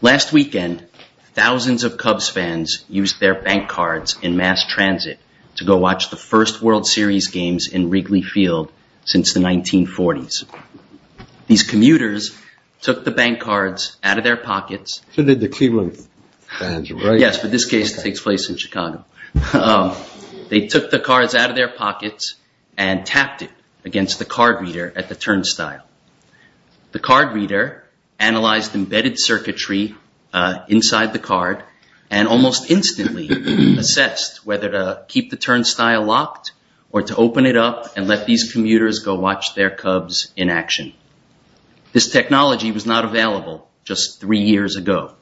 Last weekend, thousands of Cubs fans used their bank cards in mass transit to go watch the first World Series games in Wrigley Field since the 1940s. These commuters took the bank cards out of their pockets and tapped it against the card reader at the turnstile. The card reader analyzed embedded circuitry inside the card and almost instantly assessed whether to keep the turnstile locked or to open it up and let these commuters go watch their Cubs in action. This technology was not available just three years ago.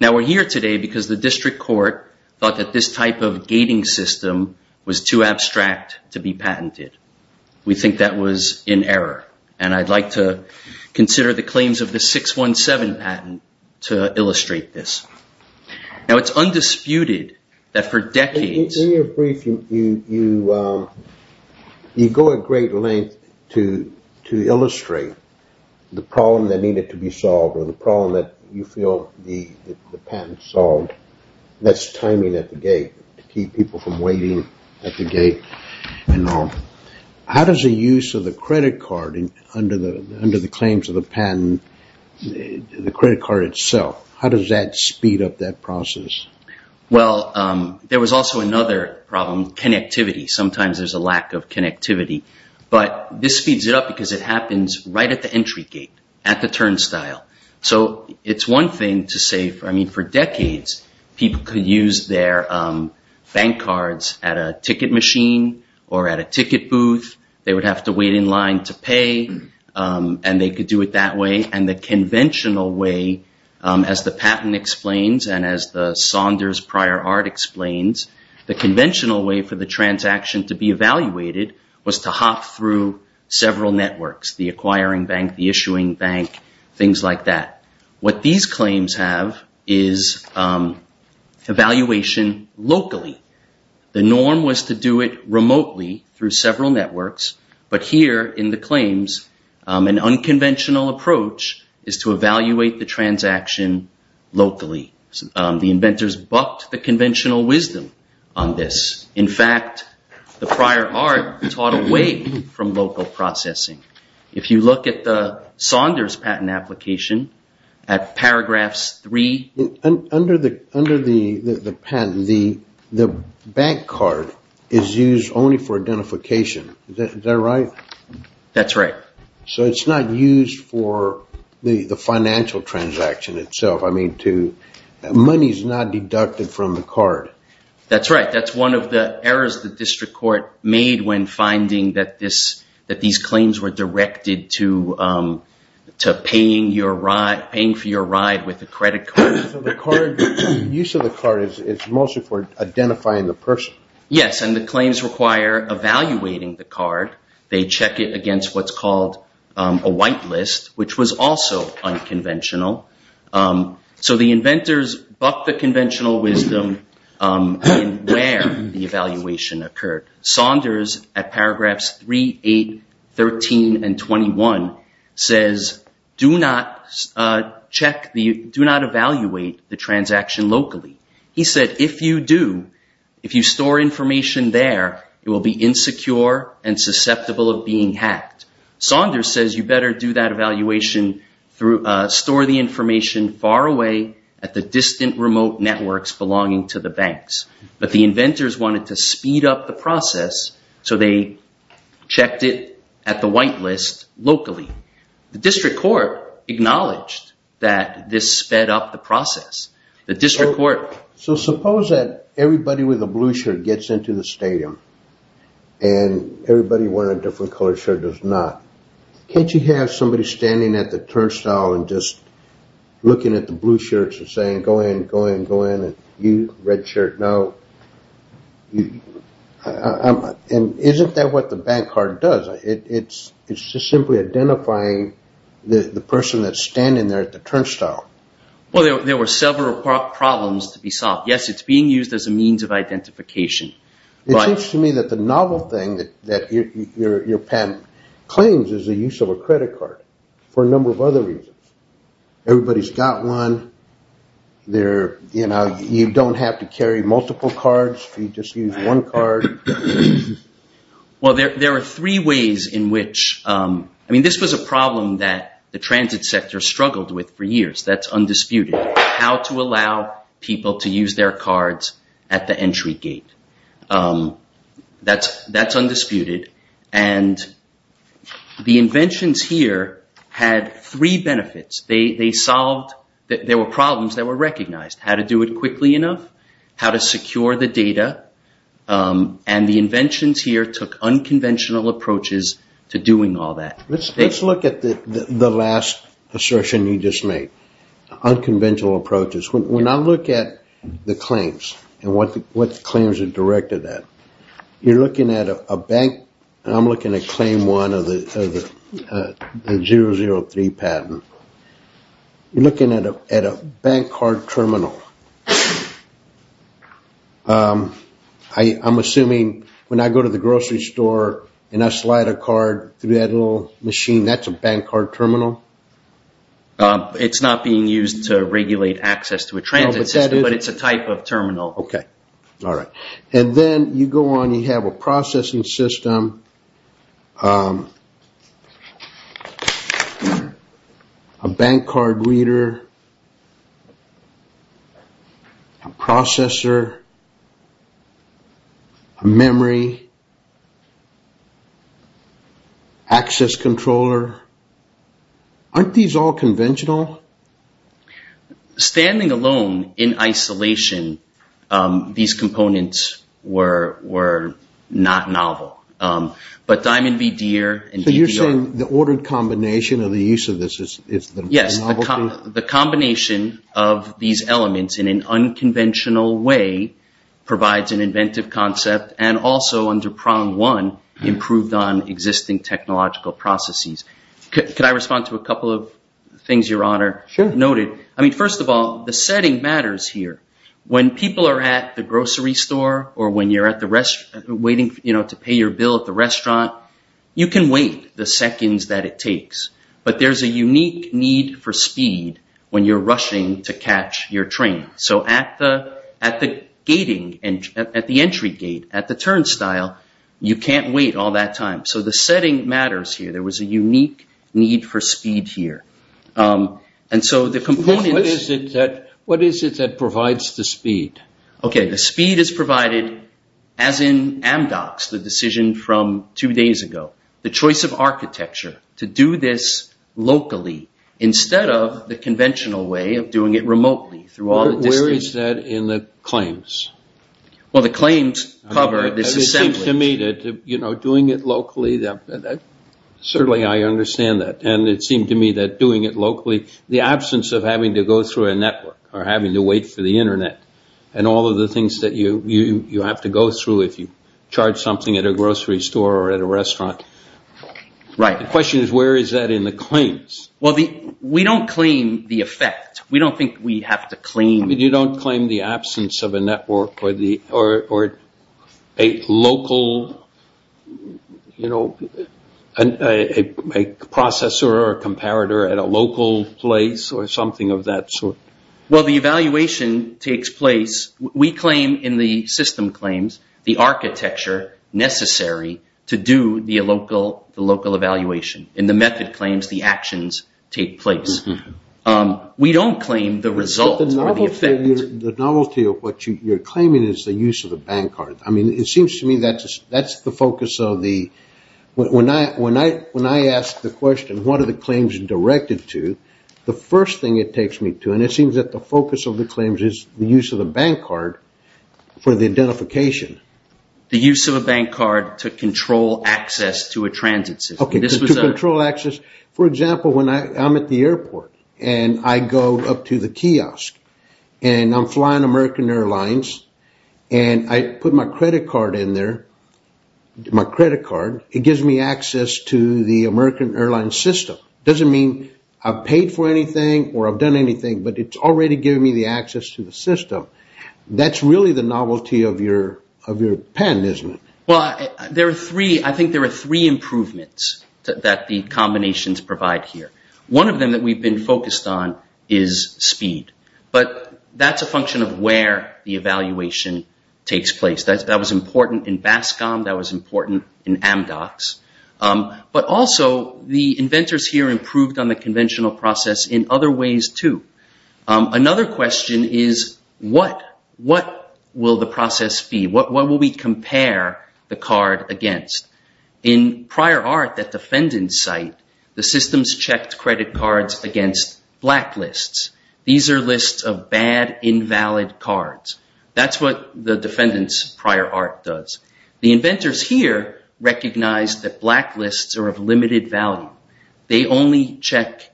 Now we're here today because the district court thought that this type of gating system was too abstract to be patented. We think that was in error and I'd like to consider the claims of the 617 patent to illustrate this. Now it's undisputed that for decades... In your brief, you go at great length to illustrate the problem that needed to be solved or the problem that you feel the patent solved. That's timing at the gate to keep people from waiting at the gate. How does the use of the credit card under the claims of the patent, the credit card itself, how does that speed up that process? Well, there was also another problem, connectivity. Sometimes there's a lack of connectivity, but this speeds it up because it happens right at the entry gate, at the turnstile. So it's one thing to say, I mean, for decades people could use their bank cards at a ticket machine or at a ticket booth. They would have to wait in line to pay and they could do it that way. And the conventional way, as the patent explains and as the Saunders prior art explains, the conventional way for the transaction to be evaluated was to hop through several networks, the acquiring bank, the issuing bank, things like that. What these claims have is evaluation locally. The norm was to do it remotely through several networks, but here in the claims an unconventional approach is to evaluate the transaction locally. The inventors bucked the conventional wisdom on this. In fact, the prior art taught away from local processing. If you look at the Saunders patent application, at paragraphs three... Under the patent, the bank card is used only for identification. Is that right? That's right. So it's not used for the financial transaction itself. I mean, money's not deducted from the card. That's right. That's one of the errors the district court made when finding that these claims were directed to paying for your ride with a credit card. So the use of the card is mostly for identifying the person. Yes, and the claims require evaluating the card. They check it against what's called a white So the inventors bucked the conventional wisdom in where the evaluation occurred. Saunders, at paragraphs three, eight, 13, and 21, says, do not evaluate the transaction locally. He said, if you do, if you store information there, it will be insecure and susceptible of being hacked. Saunders says you better do that evaluation, store the information far away at the distant remote networks belonging to the banks. But the inventors wanted to speed up the process, so they checked it at the white list locally. The district court acknowledged that this sped up the process. The district court... So suppose that everybody with a blue shirt is standing at the turnstile and just looking at the blue shirts and saying, go in, go in, go in, and you, red shirt, no. And isn't that what the bank card does? It's just simply identifying the person that's standing there at the turnstile. Well, there were several problems to be solved. Yes, it's being used as a means of identification. It seems to me that the novel thing that your patent claims is the use of a credit card for a number of other reasons. Everybody's got one. You don't have to carry multiple cards. You just use one card. Well, there are three ways in which... I mean, this was a problem that the transit sector struggled with for a long time. That's undisputed. And the inventions here had three benefits. They solved... There were problems that were recognized, how to do it quickly enough, how to secure the data. And the inventions here took unconventional approaches to doing all that. Let's look at the last assertion you just made, unconventional approaches. When I look at the claims and what the claims are directed at, you're looking at a bank... I'm looking at claim one of the 003 patent. You're looking at a bank card terminal. I'm assuming when I go to the grocery store and I slide a card through that little machine, that's a bank card terminal? It's not being used to regulate access to a transit system, but it's a type of terminal. Okay. All right. And then you go on, you have a processing system, a bank card reader, a processor, a memory, access controller. Aren't these all conventional? Standing alone in isolation, these components were not novel. But Diamond VDR and DPR... So you're saying the ordered combination of the use of this is the novelty? Yes. The combination of these elements in an unconventional way provides an inventive concept, and also under prong one, improved on existing technological processes. Could I respond to a couple of things your honor noted? I mean, first of all, the setting matters here. When people are at the grocery store or when you're at the restaurant waiting to pay your bill at the restaurant, you can wait the seconds that it takes, but there's a unique need for speed when you're rushing to catch your train. So at the entry gate, at the turnstile, you can't wait all that time. So the setting matters here. There was a unique need for speed here. What is it that provides the speed? Okay. The speed is provided as in Amdocs, the decision from two days ago. The choice of architecture to do this locally instead of the conventional way of doing it in the claims. Well, the claims cover this assembly. To me, doing it locally, certainly I understand that. And it seemed to me that doing it locally, the absence of having to go through a network or having to wait for the internet and all of the things that you have to go through if you charge something at a grocery store or at a restaurant. The question is, where is that in the claims? We don't claim the effect. We don't think we have to claim. You don't claim the absence of a network or a local processor or comparator at a local place or something of that sort? Well, the evaluation takes place. We claim in the system claims, the architecture necessary to do the local evaluation. In the method claims, the actions take place. We don't claim the result or the effect. The novelty of what you're claiming is the use of the bank card. I mean, it seems to me that's the focus of the... When I asked the question, what are the claims directed to? The first thing it takes me to, and it seems that the focus of the claims is the use of the bank card for the identification. The use of a bank card to control access to a transit system. Okay, to control access. For example, when I'm at the airport and I go up to the kiosk and I'm flying American Airlines and I put my credit card in there, my credit card, it gives me access to the American Airlines system. It doesn't mean I've paid for anything or I've done anything, but it's already given me the access to the system. That's really the novelty of your pen, isn't it? Well, I think there are three improvements that the combinations provide here. One of them that we've been focused on is speed, but that's a function of where the evaluation takes place. That was important in BASCOM. That was important in Amdocs, but also the inventors here improved on the conventional process in other ways too. Another question is what will the process be? What will we compare the card against? In prior art, that defendant's site, the systems checked credit cards against blacklists. These are lists of bad, invalid cards. That's what the defendant's prior art does. The inventors here recognize that blacklists are of limited value. They only check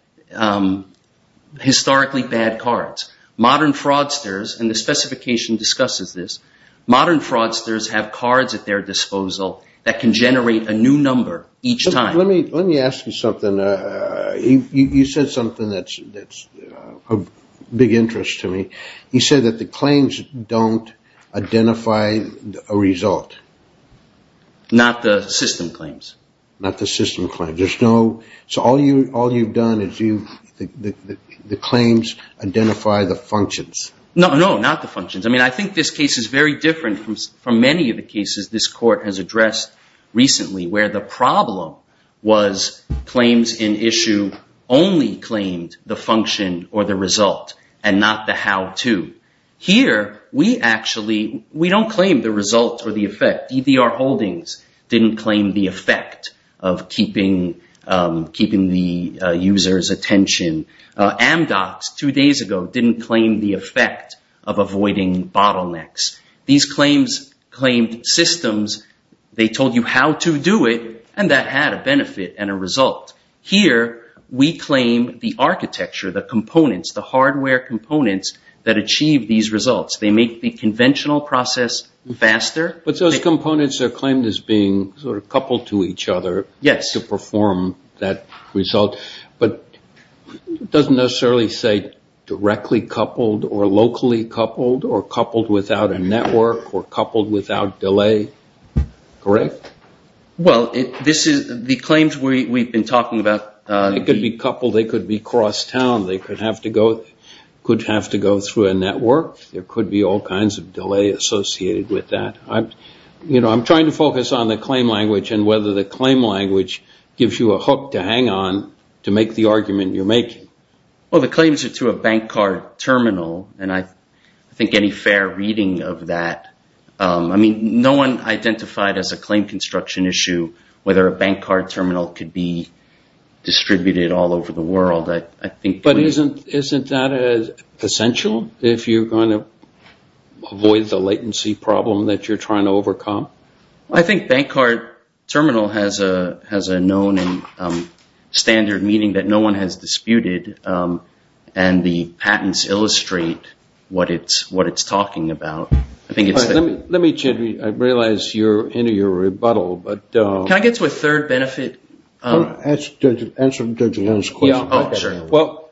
historically bad cards. Modern fraudsters, and the specification discusses this, modern fraudsters have cards at their disposal that can generate a new number each time. Let me ask you something. You said something that's of big interest to me. You said that the claims don't identify a result. Not the system claims. Not the system claims. All you've done is the claims identify the functions. No, not the functions. I think this case is very different from many of the cases this court has addressed recently where the problem was claims in issue only claimed the function or the result, and not the how-to. Here, we don't claim the result or the effect. EDR Holdings didn't claim the effect of keeping the user's attention. Amdocs, two days ago, didn't claim the effect of avoiding bottlenecks. These claims claimed systems. They told you how to do it, and that had a benefit and a result. Here, we claim the architecture, the components, the hardware components that achieve these results. They make the conventional process faster. But those components are claimed as being coupled to each other to perform that result, but it doesn't necessarily say directly coupled or locally coupled or coupled without a network or coupled without delay. Correct? Well, the claims we've been talking about- They could be coupled. They could be cross-town. They could have to go through a network. There could be all kinds of delay associated with that. I'm trying to focus on the claim language and whether the claim language gives you a hook to hang on to make the argument you're making. Well, the claims are to a bank card terminal, and I think any fair reading of that- I mean, no one identified as a claim construction issue whether a bank card terminal could be going to avoid the latency problem that you're trying to overcome. I think bank card terminal has a known and standard meaning that no one has disputed, and the patents illustrate what it's talking about. Let me check. I realize you're into your rebuttal, but- Can I get to a third benefit? Answer Judge Lowe's question. Yeah, sure.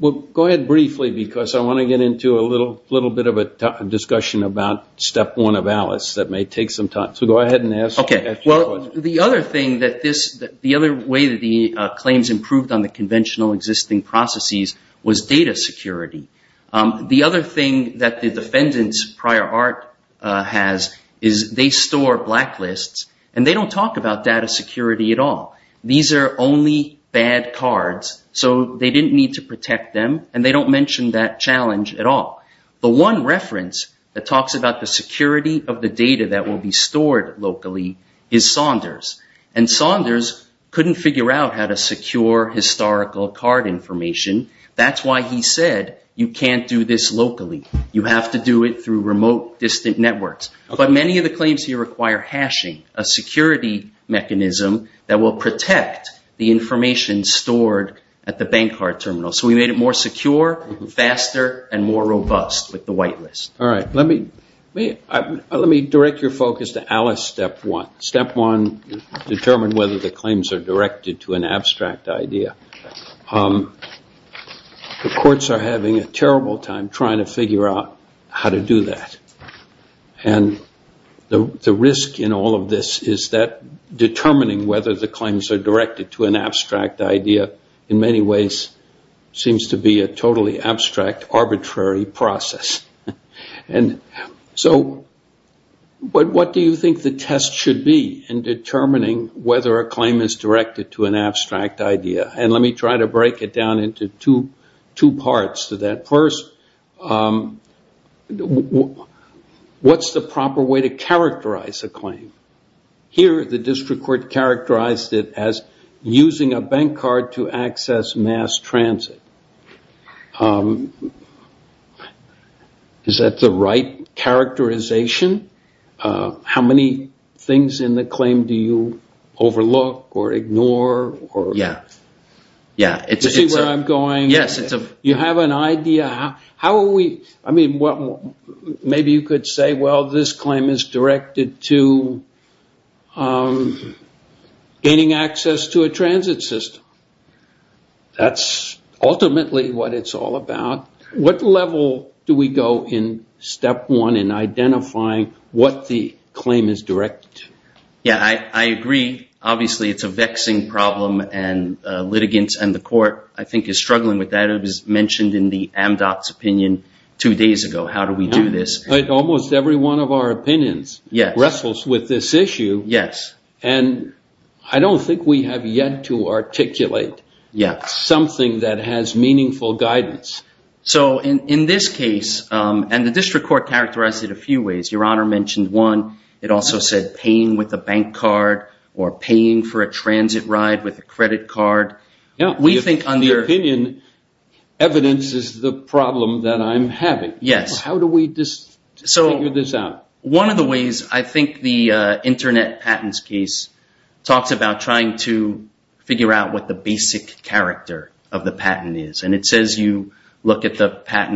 Well, go ahead briefly, because I want to get into a little bit of a discussion about step one of Alice that may take some time, so go ahead and ask your question. Okay. Well, the other way that the claims improved on the conventional existing processes was data security. The other thing that the defendant's prior art has is they store blacklists, and they don't talk about data security at all. These are only bad cards, so they didn't need to protect them, and they don't mention that challenge at all. The one reference that talks about the security of the data that will be stored locally is Saunders, and Saunders couldn't figure out how to secure historical card information. That's why he said you can't do this locally. You have to do it through remote distant networks, but many of the claims here require hashing, a security mechanism that will protect the information stored at the bank card terminal, so we made it more secure, faster, and more robust with the whitelist. All right. Let me direct your focus to Alice step one. Step one, determine whether the claims are directed to an abstract idea. The courts are having a terrible time trying to figure out how to do that. The risk in all of this is that determining whether the claims are directed to an abstract idea, in many ways, seems to be a totally abstract, arbitrary process. So what do you think the test should be in determining whether a claim is directed to an abstract idea? Let me try to break it down into two parts to that. First, what's the proper way to characterize a claim? Here, the district court characterized it as using a bank card to access mass transit. Is that the right characterization? How many things in the claim do you overlook or ignore? Do you see where I'm going? You have an idea? Maybe you could say, well, this claim is directed to gaining access to a transit system. That's ultimately what it's all about. What level do we go in step one in identifying what the claim is directed to? Yeah, I agree. Obviously, it's a vexing problem, and litigants and the court, I think, is struggling with that. It was mentioned in the MDOT's opinion two days ago, how do we do this? Almost every one of our opinions wrestles with this issue, and I don't think we have yet to in this case, and the district court characterized it a few ways. Your Honor mentioned one. It also said paying with a bank card or paying for a transit ride with a credit card. We think under- In your opinion, evidence is the problem that I'm having. Yes. How do we figure this out? One of the ways, I think the internet patents case talks about trying to figure out what the patent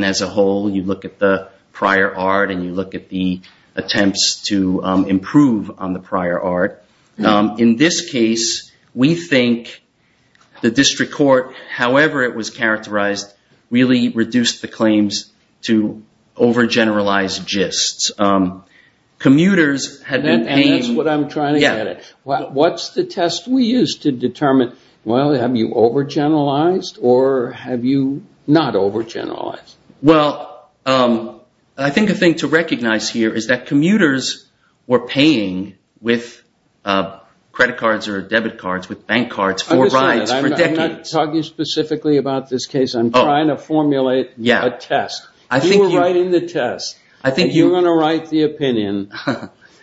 as a whole, you look at the prior art and you look at the attempts to improve on the prior art. In this case, we think the district court, however it was characterized, really reduced the claims to over-generalized gists. Commuters had been paying- And that's what I'm trying to get at. What's the test we use to determine, well, have you over-generalized or have you not over-generalized? Well, I think a thing to recognize here is that commuters were paying with credit cards or debit cards, with bank cards for rides for decades. I'm not talking specifically about this case. I'm trying to formulate a test. You were writing the test. You're going to write the opinion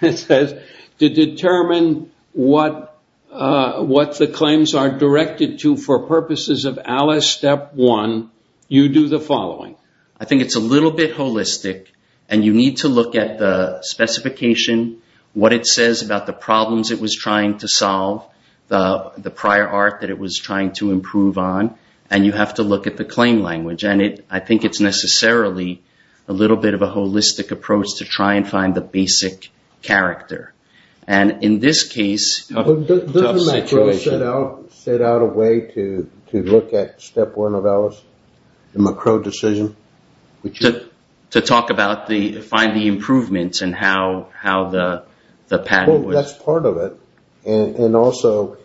that says to determine what the claims are directed to for purposes of Alice step one, you do the following. I think it's a little bit holistic and you need to look at the specification, what it says about the problems it was trying to solve, the prior art that it was trying to improve on, and you have to look at the claim language. I think it's necessarily a little bit of a holistic approach to try and find the basic character. And in this case- Doesn't McCrow set out a way to look at step one of Alice, the McCrow decision? To talk about the, find the improvements and how the pattern would- That's part of it. And also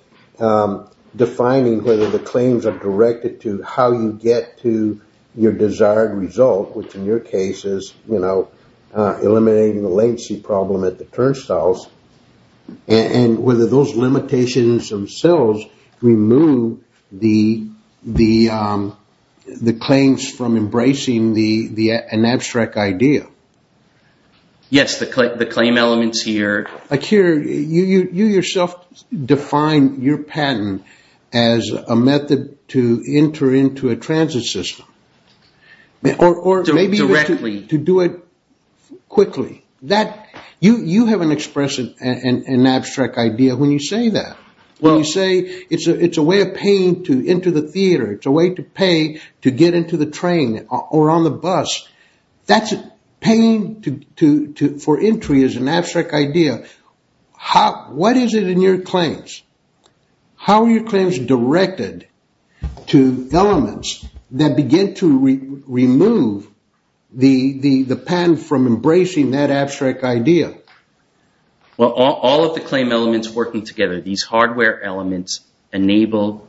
defining whether the claims are directed to how you get to your desired result, which in your case is eliminating the latency problem at the turnstiles, and whether those limitations themselves remove the claims from embracing an abstract idea. Yes, the claim elements here- You yourself define your pattern as a method to enter into a transit system. Or maybe- Directly. To do it quickly. You have an expression and an abstract idea when you say that. When you say it's a way of paying to enter the theater, it's a way to pay to get into the train or on the bus. That's paying for entry is an abstract idea. What is it in your claims? How are your claims directed to elements that begin to remove the pattern from embracing that abstract idea? Well, all of the claim elements working together, these hardware elements enable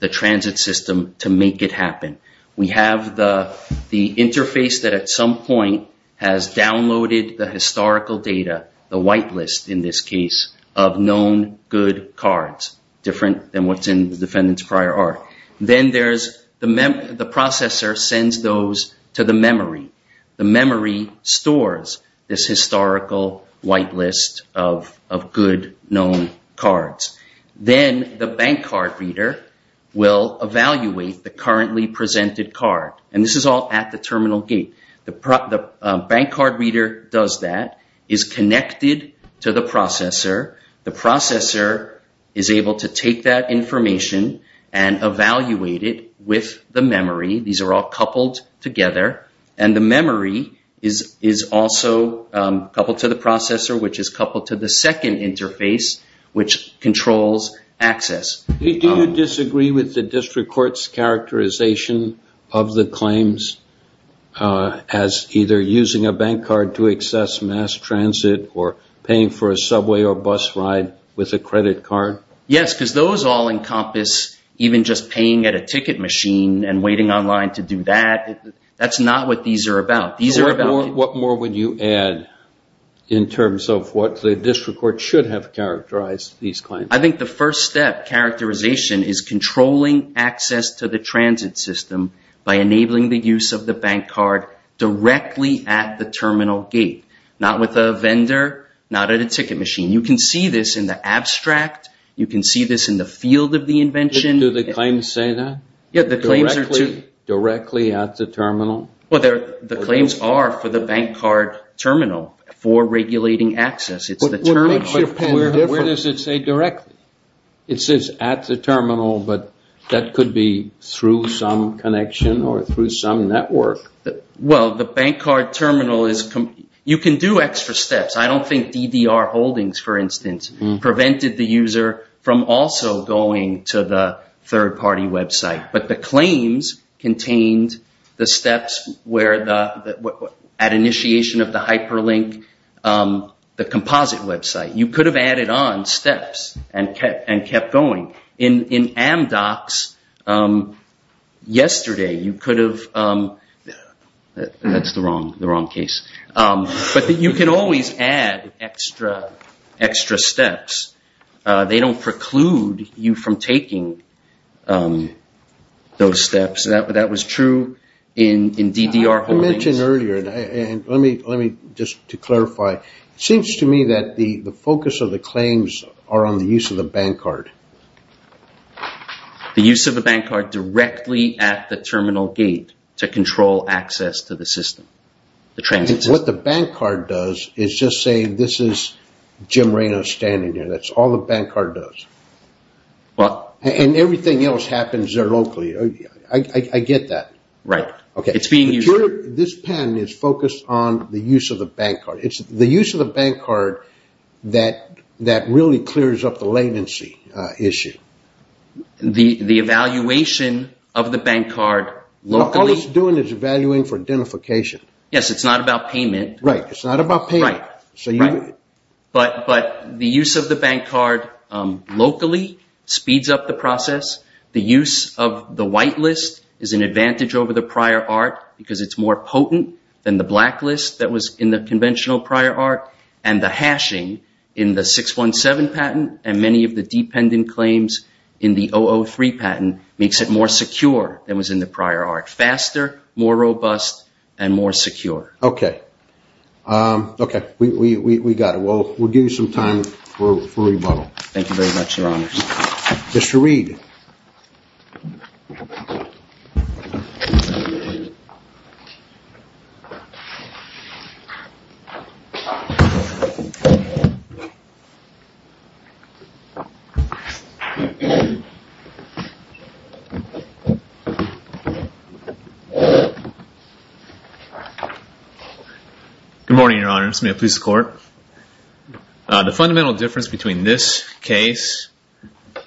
the transit system to make it happen. We have the interface that at some point has downloaded the historical data, the whitelist in this case, of known good cards, different than what's in the defendant's prior art. Then there's the processor sends those to the memory. The memory stores this historical whitelist of good known cards. Then the bank card reader will evaluate the currently presented card. This is all at the terminal gate. The bank card reader does that, is connected to the processor. The processor is able to take that information and evaluate it with the memory. These are all coupled together. The memory is also coupled to the processor, which is coupled to the second interface, which controls access. Do you disagree with the district court's characterization of the claims as either using a bank card to access mass transit or paying for a subway or bus ride with a credit card? Yes, because those all encompass even just paying at a ticket machine and waiting online to do that. That's not what these are about. These are about... What more would you add in terms of what the district court should have characterized these claims? I think the first step, characterization, is controlling access to the transit system by enabling the use of the bank card directly at the terminal gate, not with a vendor, not at a ticket machine. You can see this in the abstract. You can see this in the field of the invention. Do the claims say that? Yeah, the claims are too... terminal for regulating access. Where does it say directly? It says at the terminal, but that could be through some connection or through some network. Well, the bank card terminal is... You can do extra steps. I don't think DDR Holdings, for instance, prevented the user from also going to the third party website, but the claims contained the steps where at initiation of the hyperlink, the composite website, you could have added on steps and kept going. In Amdocs yesterday, you could have... That's the wrong case. But you can always add extra steps. They don't preclude you from taking those steps. That was true in DDR Holdings. You mentioned earlier, and let me just to clarify, it seems to me that the focus of the claims are on the use of the bank card. The use of the bank card directly at the terminal gate to control access to the system, the transit system. What the bank card does is just say, this is Jim Reyno standing there. That's all the bank card does. And everything else happens there locally. I get that. Right. It's being used... This pen is focused on the use of the bank card. It's the use of the bank card that really clears up the latency issue. The evaluation of the bank card locally... All it's doing is evaluating for identification. Yes. It's not about payment. Right. It's not about payment. Right. But the use of the bank card locally speeds up the process. The use of the white list is an advantage over the prior art because it's more potent than the black list that was in the conventional prior art. And the hashing in the 617 patent and many of the dependent claims in the 003 patent makes it more secure than was in the prior art. Faster, more robust, and more secure. Okay. Okay. We got it. We'll give you some time for rebuttal. Thank you very much, your honors. Mr. Reid. Good morning, your honors. May it please the court. The fundamental difference between this case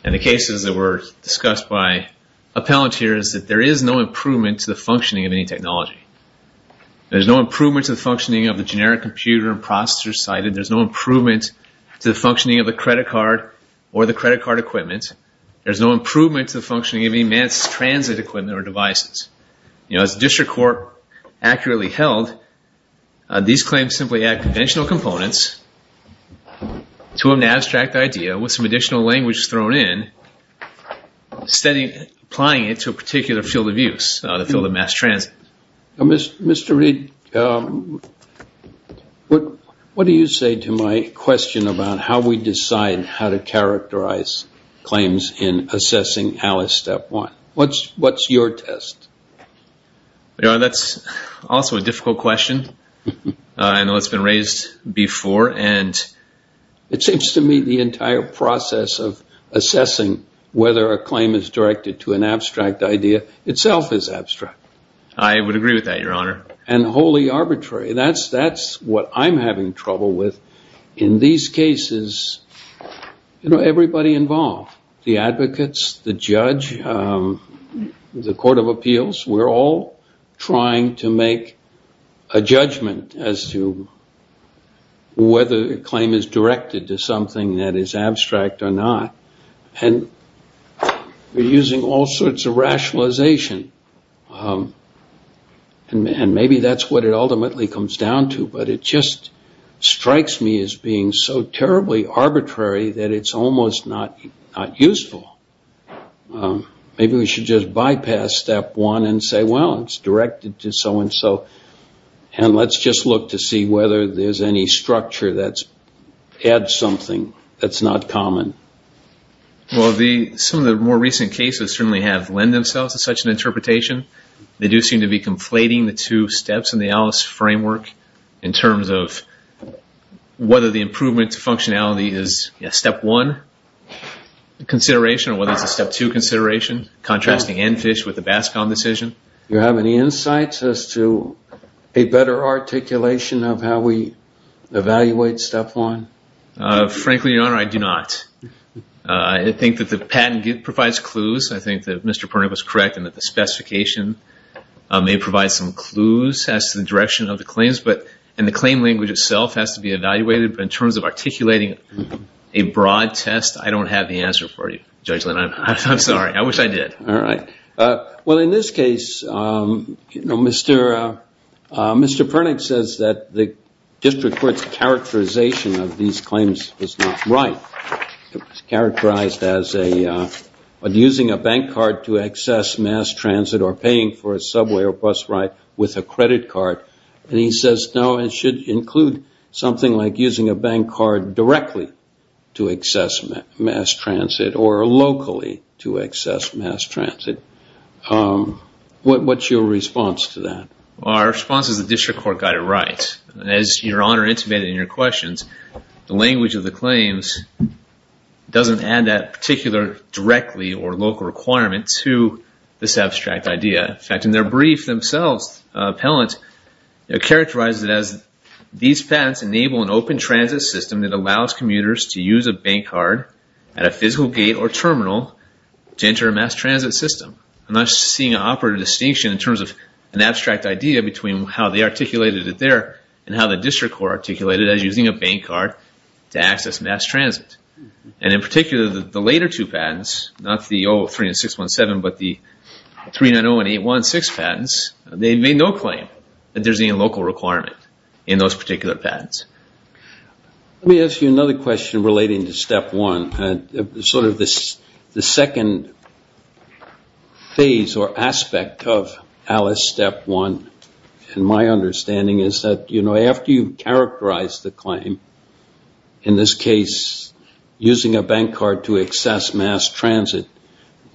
and the cases that were discussed by appellant here is that there is no improvement to the functioning of any technology. There's no improvement to the functioning of the generic computer and processor cited. There's no improvement to the functioning of the credit card or the credit card equipment. There's no improvement to the functioning of any mass transit equipment or devices. As district court accurately held, these claims simply add conventional components to an abstract idea with some additional language thrown in, applying it to a particular field of use, the field of mass transit. Mr. Reid, what do you say to my question about how we decide how to characterize claims in assessing Alice Step 1? What's your test? That's also a difficult question. I know it's been raised before. It seems to me the entire process of assessing whether a claim is directed to an abstract idea itself is abstract. I would agree with that, your honor. And wholly arbitrary. That's what I'm having trouble with. In these cases, you know, everybody involved, the advocates, the judge, the court of appeals, we're all trying to make a judgment as to whether a claim is directed to something that is abstract or not. And we're using all sorts of rationalization. And maybe that's what it ultimately comes down to. But it just strikes me as being so terribly arbitrary that it's almost not useful. Maybe we should just bypass Step 1 and say, well, it's directed to so and so. And let's just look to see whether there's any structure that adds something that's not common. Well, some of the more recent cases certainly have lent themselves to such an interpretation. They do seem to be conflating the two steps in the ALICE framework in terms of whether the improvement to functionality is a Step 1 consideration or whether it's a Step 2 consideration, contrasting ANFISH with the BASCOM decision. You have any insights as to a better articulation of how we evaluate Step 1? Frankly, your honor, I do not. I think that the patent provides clues. I think that Mr. Purnip is correct in that specification may provide some clues as to the direction of the claims. But in the claim language itself has to be evaluated. But in terms of articulating a broad test, I don't have the answer for you, Judge Lynn. I'm sorry. I wish I did. All right. Well, in this case, Mr. Purnip says that the district court's characterization of these are paying for a subway or bus ride with a credit card. And he says, no, it should include something like using a bank card directly to access mass transit or locally to access mass transit. What's your response to that? Our response is the district court got it right. As your honor intimated in your questions, the language of the claims doesn't add that directly or local requirement to this abstract idea. In fact, in their brief themselves, Appellant characterizes it as these patents enable an open transit system that allows commuters to use a bank card at a physical gate or terminal to enter a mass transit system. I'm not seeing an operative distinction in terms of an abstract idea between how they articulated it there and how the district court articulated it as using a bank card to access mass transit. And in particular, the later two patents, not the 03 and 617, but the 390 and 816 patents, they made no claim that there's any local requirement in those particular patents. Let me ask you another question relating to Step 1. Sort of the second phase or aspect of Alice Step 1, in my understanding, is that after you characterize the claim, in this case, using a bank card to access mass transit,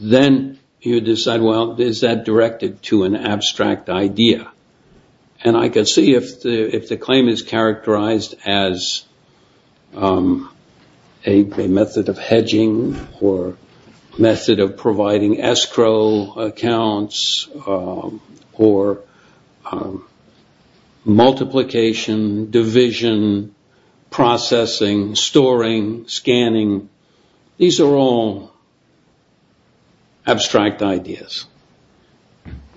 then you decide, well, is that directed to an abstract idea? And I could see if the claim is characterized as a method of hedging or method of providing escrow accounts or multiplication, division, processing, storing, scanning. These are all abstract ideas.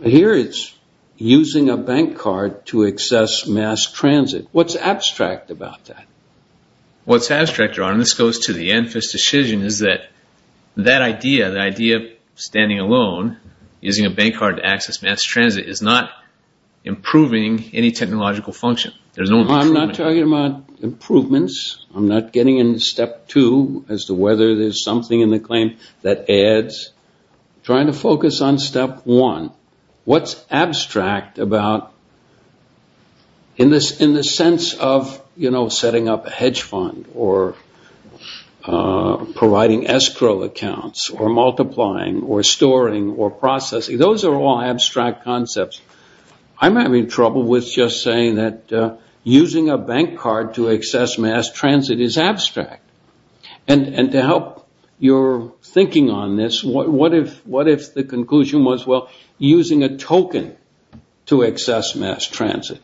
Here it's using a bank card to access mass transit. What's abstract about that? What's abstract, Ron, and this goes to the Anfis decision, is that that idea, the idea of standing alone, using a bank card to access mass transit, is not improving any technological function. There's no improvement. I'm not talking about improvements. I'm not getting into Step 2 as to whether there's something in the claim that adds. Trying to focus on Step 1. What's abstract about, in the sense of setting up a hedge fund or providing escrow accounts or multiplying or storing or processing, those are all abstract concepts. I'm having trouble with just saying that using a bank card to access mass transit is abstract. And to help your thinking on this, what if the conclusion was, well, using a token to access mass transit.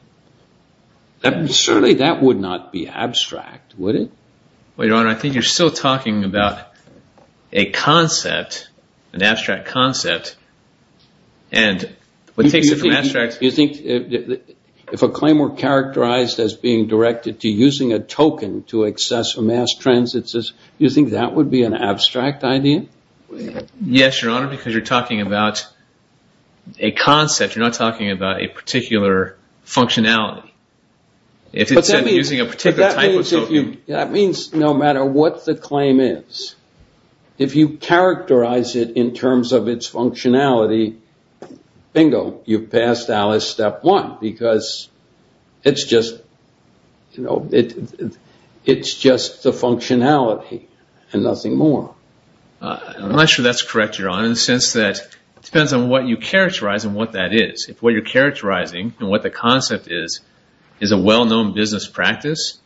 Certainly that would not be abstract, would it? Well, Your Honor, I think you're still talking about a concept, an abstract concept, and what takes it from abstract... You think if a claim were characterized as being directed to using a token to access mass transit, you think that would be an abstract idea? Yes, Your Honor, because you're talking about a concept. You're not talking about a particular functionality. That means no matter what the claim is, if you characterize it in terms of its functionality, bingo, you've passed Alice Step 1, because it's just the functionality and nothing more. I'm not sure that's correct, Your Honor, in the sense that it depends on what you characterize and what that is. If what you're characterizing and what the concept is, is a well-known business practice,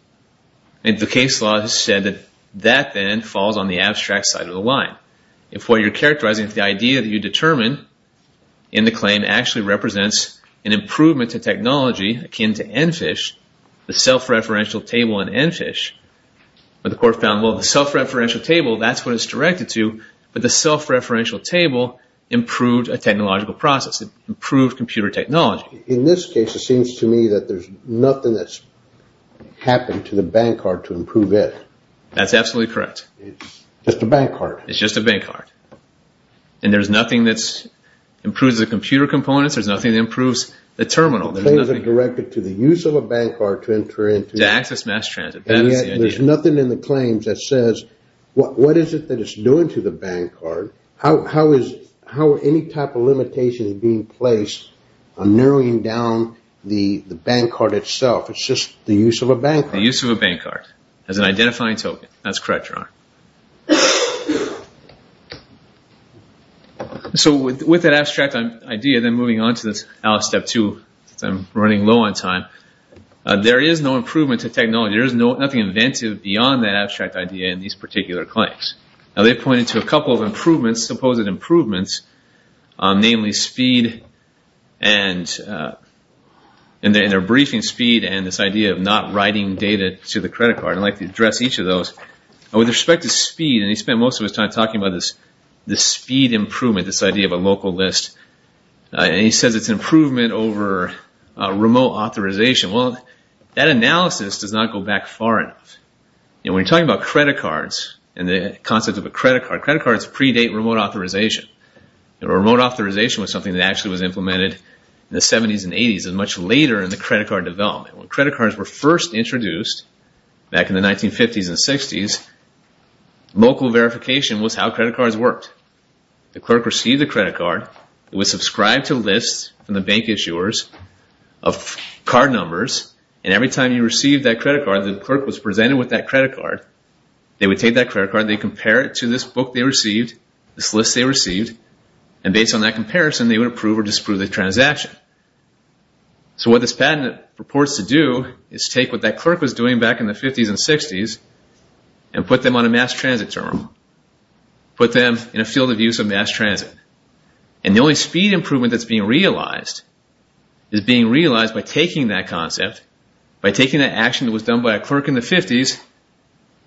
and the case law has said that that then falls on the abstract side of the line. If what you're characterizing is the idea that you determine in the claim actually represents an improvement to technology akin to ENFISH, the self-referential table in ENFISH, but the court found, well, the self-referential table, that's what it's directed to, but the self-referential table improved a technological process. It improved computer technology. In this case, it seems to me that there's nothing that's happened to the bank card to improve it. That's absolutely correct. It's just a bank card. It's just a bank card, and there's nothing that improves the computer components. There's nothing that improves the terminal. The claims are directed to the use of a bank card to enter into... To access mass transit. There's nothing in the claims that says, what is it that it's doing to the bank card? How are any type of limitations being placed on narrowing down the bank card itself? It's just the use of a bank card. The use of a bank card as an identifying token. That's correct, Your Honor. So with that abstract idea, then moving on to Alice Step 2, since I'm running low on time, there is no improvement to technology. Nothing inventive beyond that abstract idea in these particular claims. Now they pointed to a couple of improvements, supposed improvements, namely speed and their briefing speed and this idea of not writing data to the credit card. I'd like to address each of those. With respect to speed, and he spent most of his time talking about this speed improvement, this idea of a local list, and he says it's an improvement over remote authorization. That analysis does not go back far enough. When you're talking about credit cards and the concept of a credit card, credit cards predate remote authorization. Remote authorization was something that actually was implemented in the 70s and 80s and much later in the credit card development. When credit cards were first introduced back in the 1950s and 60s, local verification was how credit cards worked. The clerk received the credit card. It was subscribed to lists from the bank issuers of card numbers, and every time you received that credit card, the clerk was presented with that credit card. They would take that credit card, they compare it to this book they received, this list they received, and based on that comparison, they would approve or disprove the transaction. What this patent proports to do is take what that clerk was doing back in the 50s and 60s and put them on a mass transit terminal, put them in a field of use of mass transit. The only speed improvement that's being realized is being realized by taking that concept, by taking that action that was done by a clerk in the 50s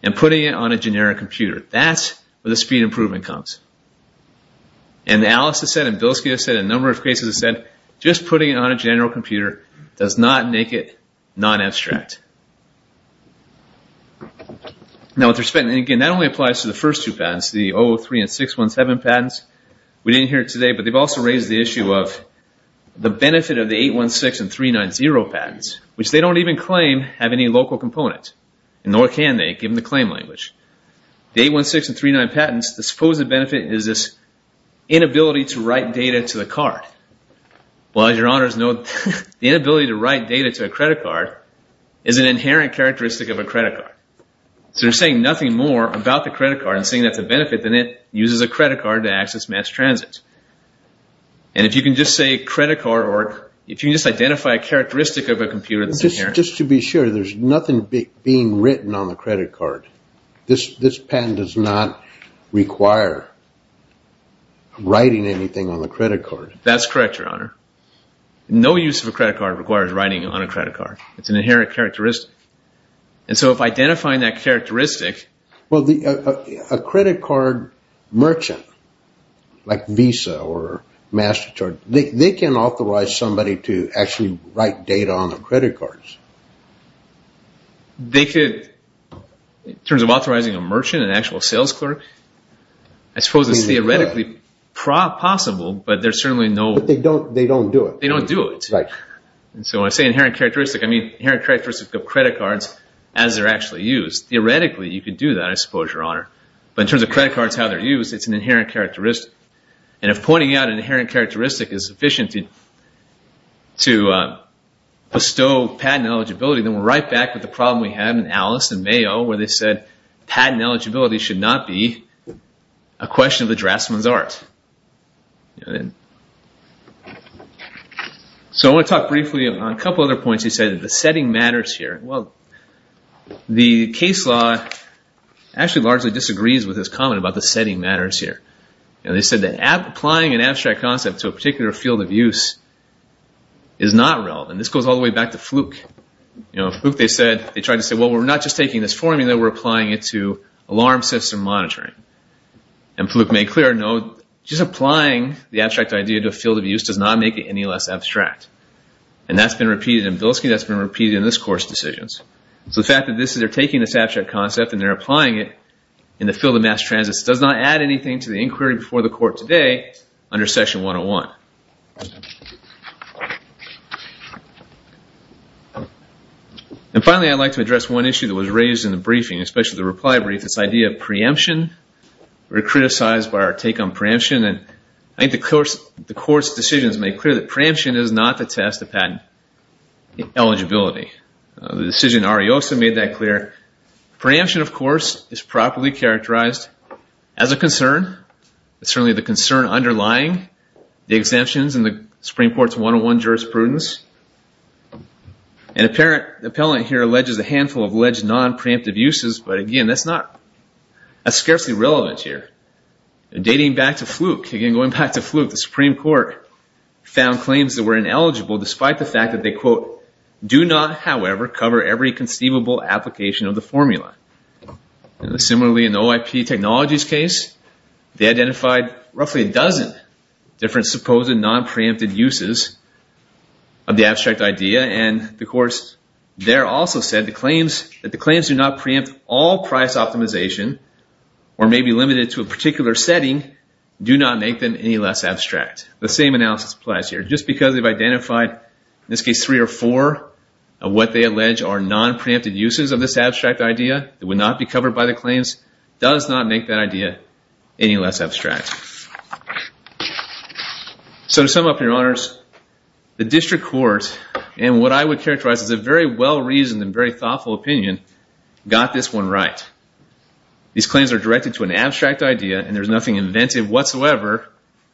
and putting it on a generic computer. That's where the speed improvement comes. Alice has said, and Bilski has said, and a number of cases have said, just putting it on a general computer does not make it non-abstract. Now with respect, again, that only applies to the first two patents, the 003 and 617 patents. We didn't hear it today, but they've also raised the issue of the benefit of the 816 and 390 patents, which they don't even claim have any local components, and nor can they, given the claim language. The 816 and 390 patents, the supposed benefit is this inability to write data to the card. Well, as your honors know, the inability to write data to a credit card is an inherent characteristic of a credit card. So they're saying nothing more about the credit card and saying that's a benefit than it uses a credit card to access mass transit. And if you can just say credit card, or if you can just identify a characteristic of a computer that's inherent... Just to be sure, there's nothing being written on the credit card. This patent does not require writing anything on the credit card. That's correct, your honor. No use of a credit card requires writing on a credit card. It's an inherent characteristic. And so if identifying that characteristic... A credit card merchant, like Visa or MasterCard, they can authorize somebody to actually write data on the credit cards. They could, in terms of authorizing a merchant, an actual sales clerk, I suppose it's theoretically possible, but there's certainly no... But they don't do it. They don't do it. Right. And so when I say inherent characteristic, I mean inherent characteristic of credit cards as they're actually used. Theoretically, you could do that. But in terms of credit cards, how they're used, it's an inherent characteristic. And if pointing out an inherent characteristic is sufficient to bestow patent eligibility, then we're right back with the problem we had in Alice and Mayo, where they said patent eligibility should not be a question of the draftsman's art. So I want to talk briefly on a couple other points. You said that the setting matters here. Well, the case law actually largely disagrees with this comment about the setting matters here. They said that applying an abstract concept to a particular field of use is not relevant. This goes all the way back to Fluke. They tried to say, well, we're not just taking this formula, we're applying it to alarm system monitoring. And Fluke made clear, no, just applying the abstract idea to a field of use does not make it any less abstract. And that's been repeated in Billisky. So the fact that they're taking this abstract concept and they're applying it in the field of mass transit does not add anything to the inquiry before the court today under section 101. And finally, I'd like to address one issue that was raised in the briefing, especially the reply brief, this idea of preemption. We were criticized by our take on preemption. And I think the court's decision has made clear that preemption is not the test of patent eligibility. The decision in Ariosa made that clear. Preemption, of course, is properly characterized as a concern. It's certainly the concern underlying the exemptions in the Supreme Court's 101 jurisprudence. An appellant here alleges a handful of alleged non-preemptive uses. But again, that's not as scarcely relevant here. Dating back to Fluke, again, going back to Fluke, the Supreme Court found claims that were ineligible despite the fact that they, quote, do not, however, cover every conceivable application of the formula. Similarly, in the OIP Technologies case, they identified roughly a dozen different supposed non-preemptive uses of the abstract idea. And the courts there also said that the claims do not preempt all price optimization or may be limited to a particular setting, do not make them any less abstract. The same analysis applies here. Just because they've identified, in this case, three or four of what they allege are non-preemptive uses of this abstract idea that would not be covered by the claims does not make that idea any less abstract. So to sum up, Your Honors, the district court, and what I would characterize as a very well-reasoned and very thoughtful opinion, got this one right. These claims are directed to an abstract idea and there's nothing inventive whatsoever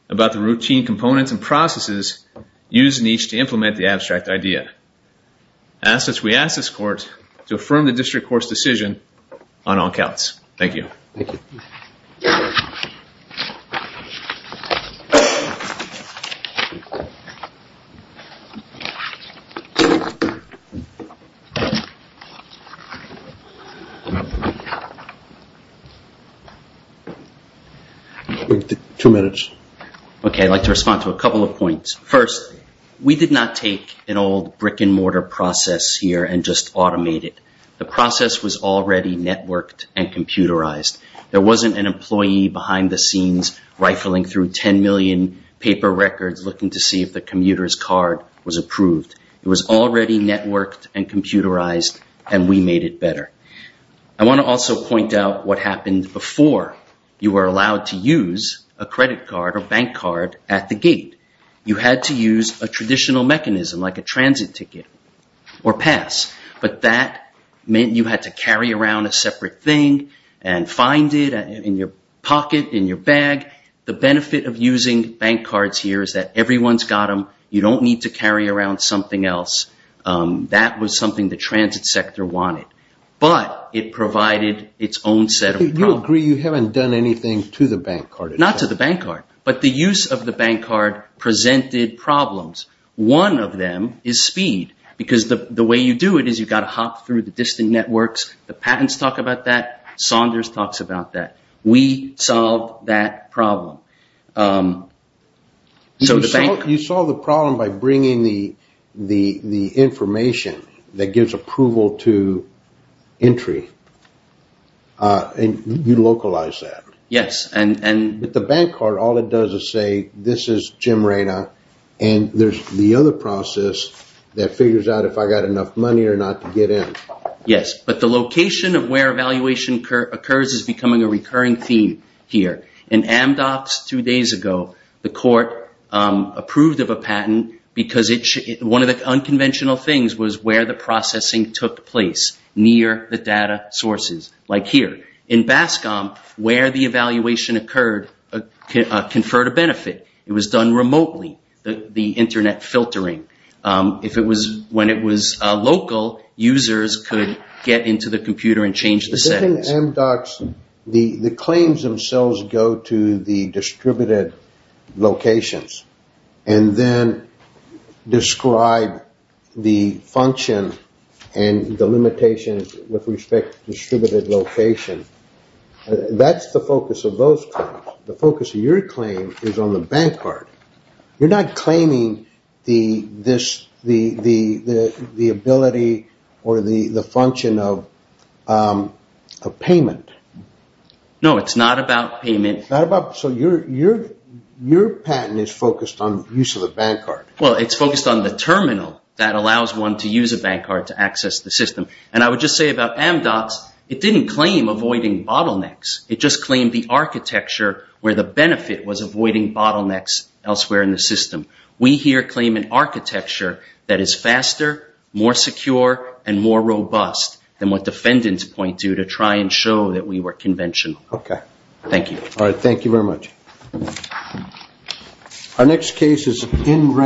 about the routine components and processes used in each to implement the abstract idea. We ask this court to affirm the district court's decision on all counts. Thank you. Thank you. Wait two minutes. Okay, I'd like to respond to a couple of points. First, we did not take an old brick-and-mortar process here and just automate it. The process was already networked and computerized. There wasn't an employee behind the scenes rifling through 10 million paper records looking to see if the commuter's card was approved. It was already networked and computerized and we made it better. I want to also point out what happened before you were allowed to use a credit card or bank card at the gate. You had to use a traditional mechanism like a transit ticket or pass, but that meant you had to carry around a separate thing and find it in your pocket, in your bag. The benefit of using bank cards here is that everyone's got them. You don't need to carry around something else. That was something the transit sector wanted, but it provided its own set of problems. Do you agree you haven't done anything to the bank card? Not to the bank card, but the use of the bank card presented problems. One of them is speed because the way you do it is you've got to hop through the distant networks. The patents talk about that. Saunders talks about that. We solved that problem. You solve the problem by bringing the information that gives approval to entry. And you localize that. Yes. With the bank card, all it does is say, this is Jim Rayna and there's the other process that figures out if I got enough money or not to get in. Yes, but the location of where evaluation occurs is becoming a recurring theme here. In Amdocs two days ago, the court approved of a patent because one of the unconventional things was where the processing took place near the data sources, like here. In Bascom, where the evaluation occurred, conferred a benefit. It was done remotely, the internet filtering. If it was when it was local, users could get into the computer and change the settings. In Amdocs, the claims themselves go to the distributed locations and then describe the function and the limitations with respect to distributed location. That's the focus of those claims. The focus of your claim is on the bank card. You're not claiming the ability or the function of a payment. No, it's not about payment. Your patent is focused on use of a bank card. It's focused on the terminal that allows one to use a bank card to access the system. I would just say about Amdocs, it didn't claim avoiding bottlenecks. It just claimed the architecture where the benefit was avoiding bottlenecks elsewhere in the system. We here claim an architecture that is faster, more secure, and more robust than what defendants point to to try and show that we were conventional. Okay. Thank you. All right. Thank you very much. Our next case is Inration.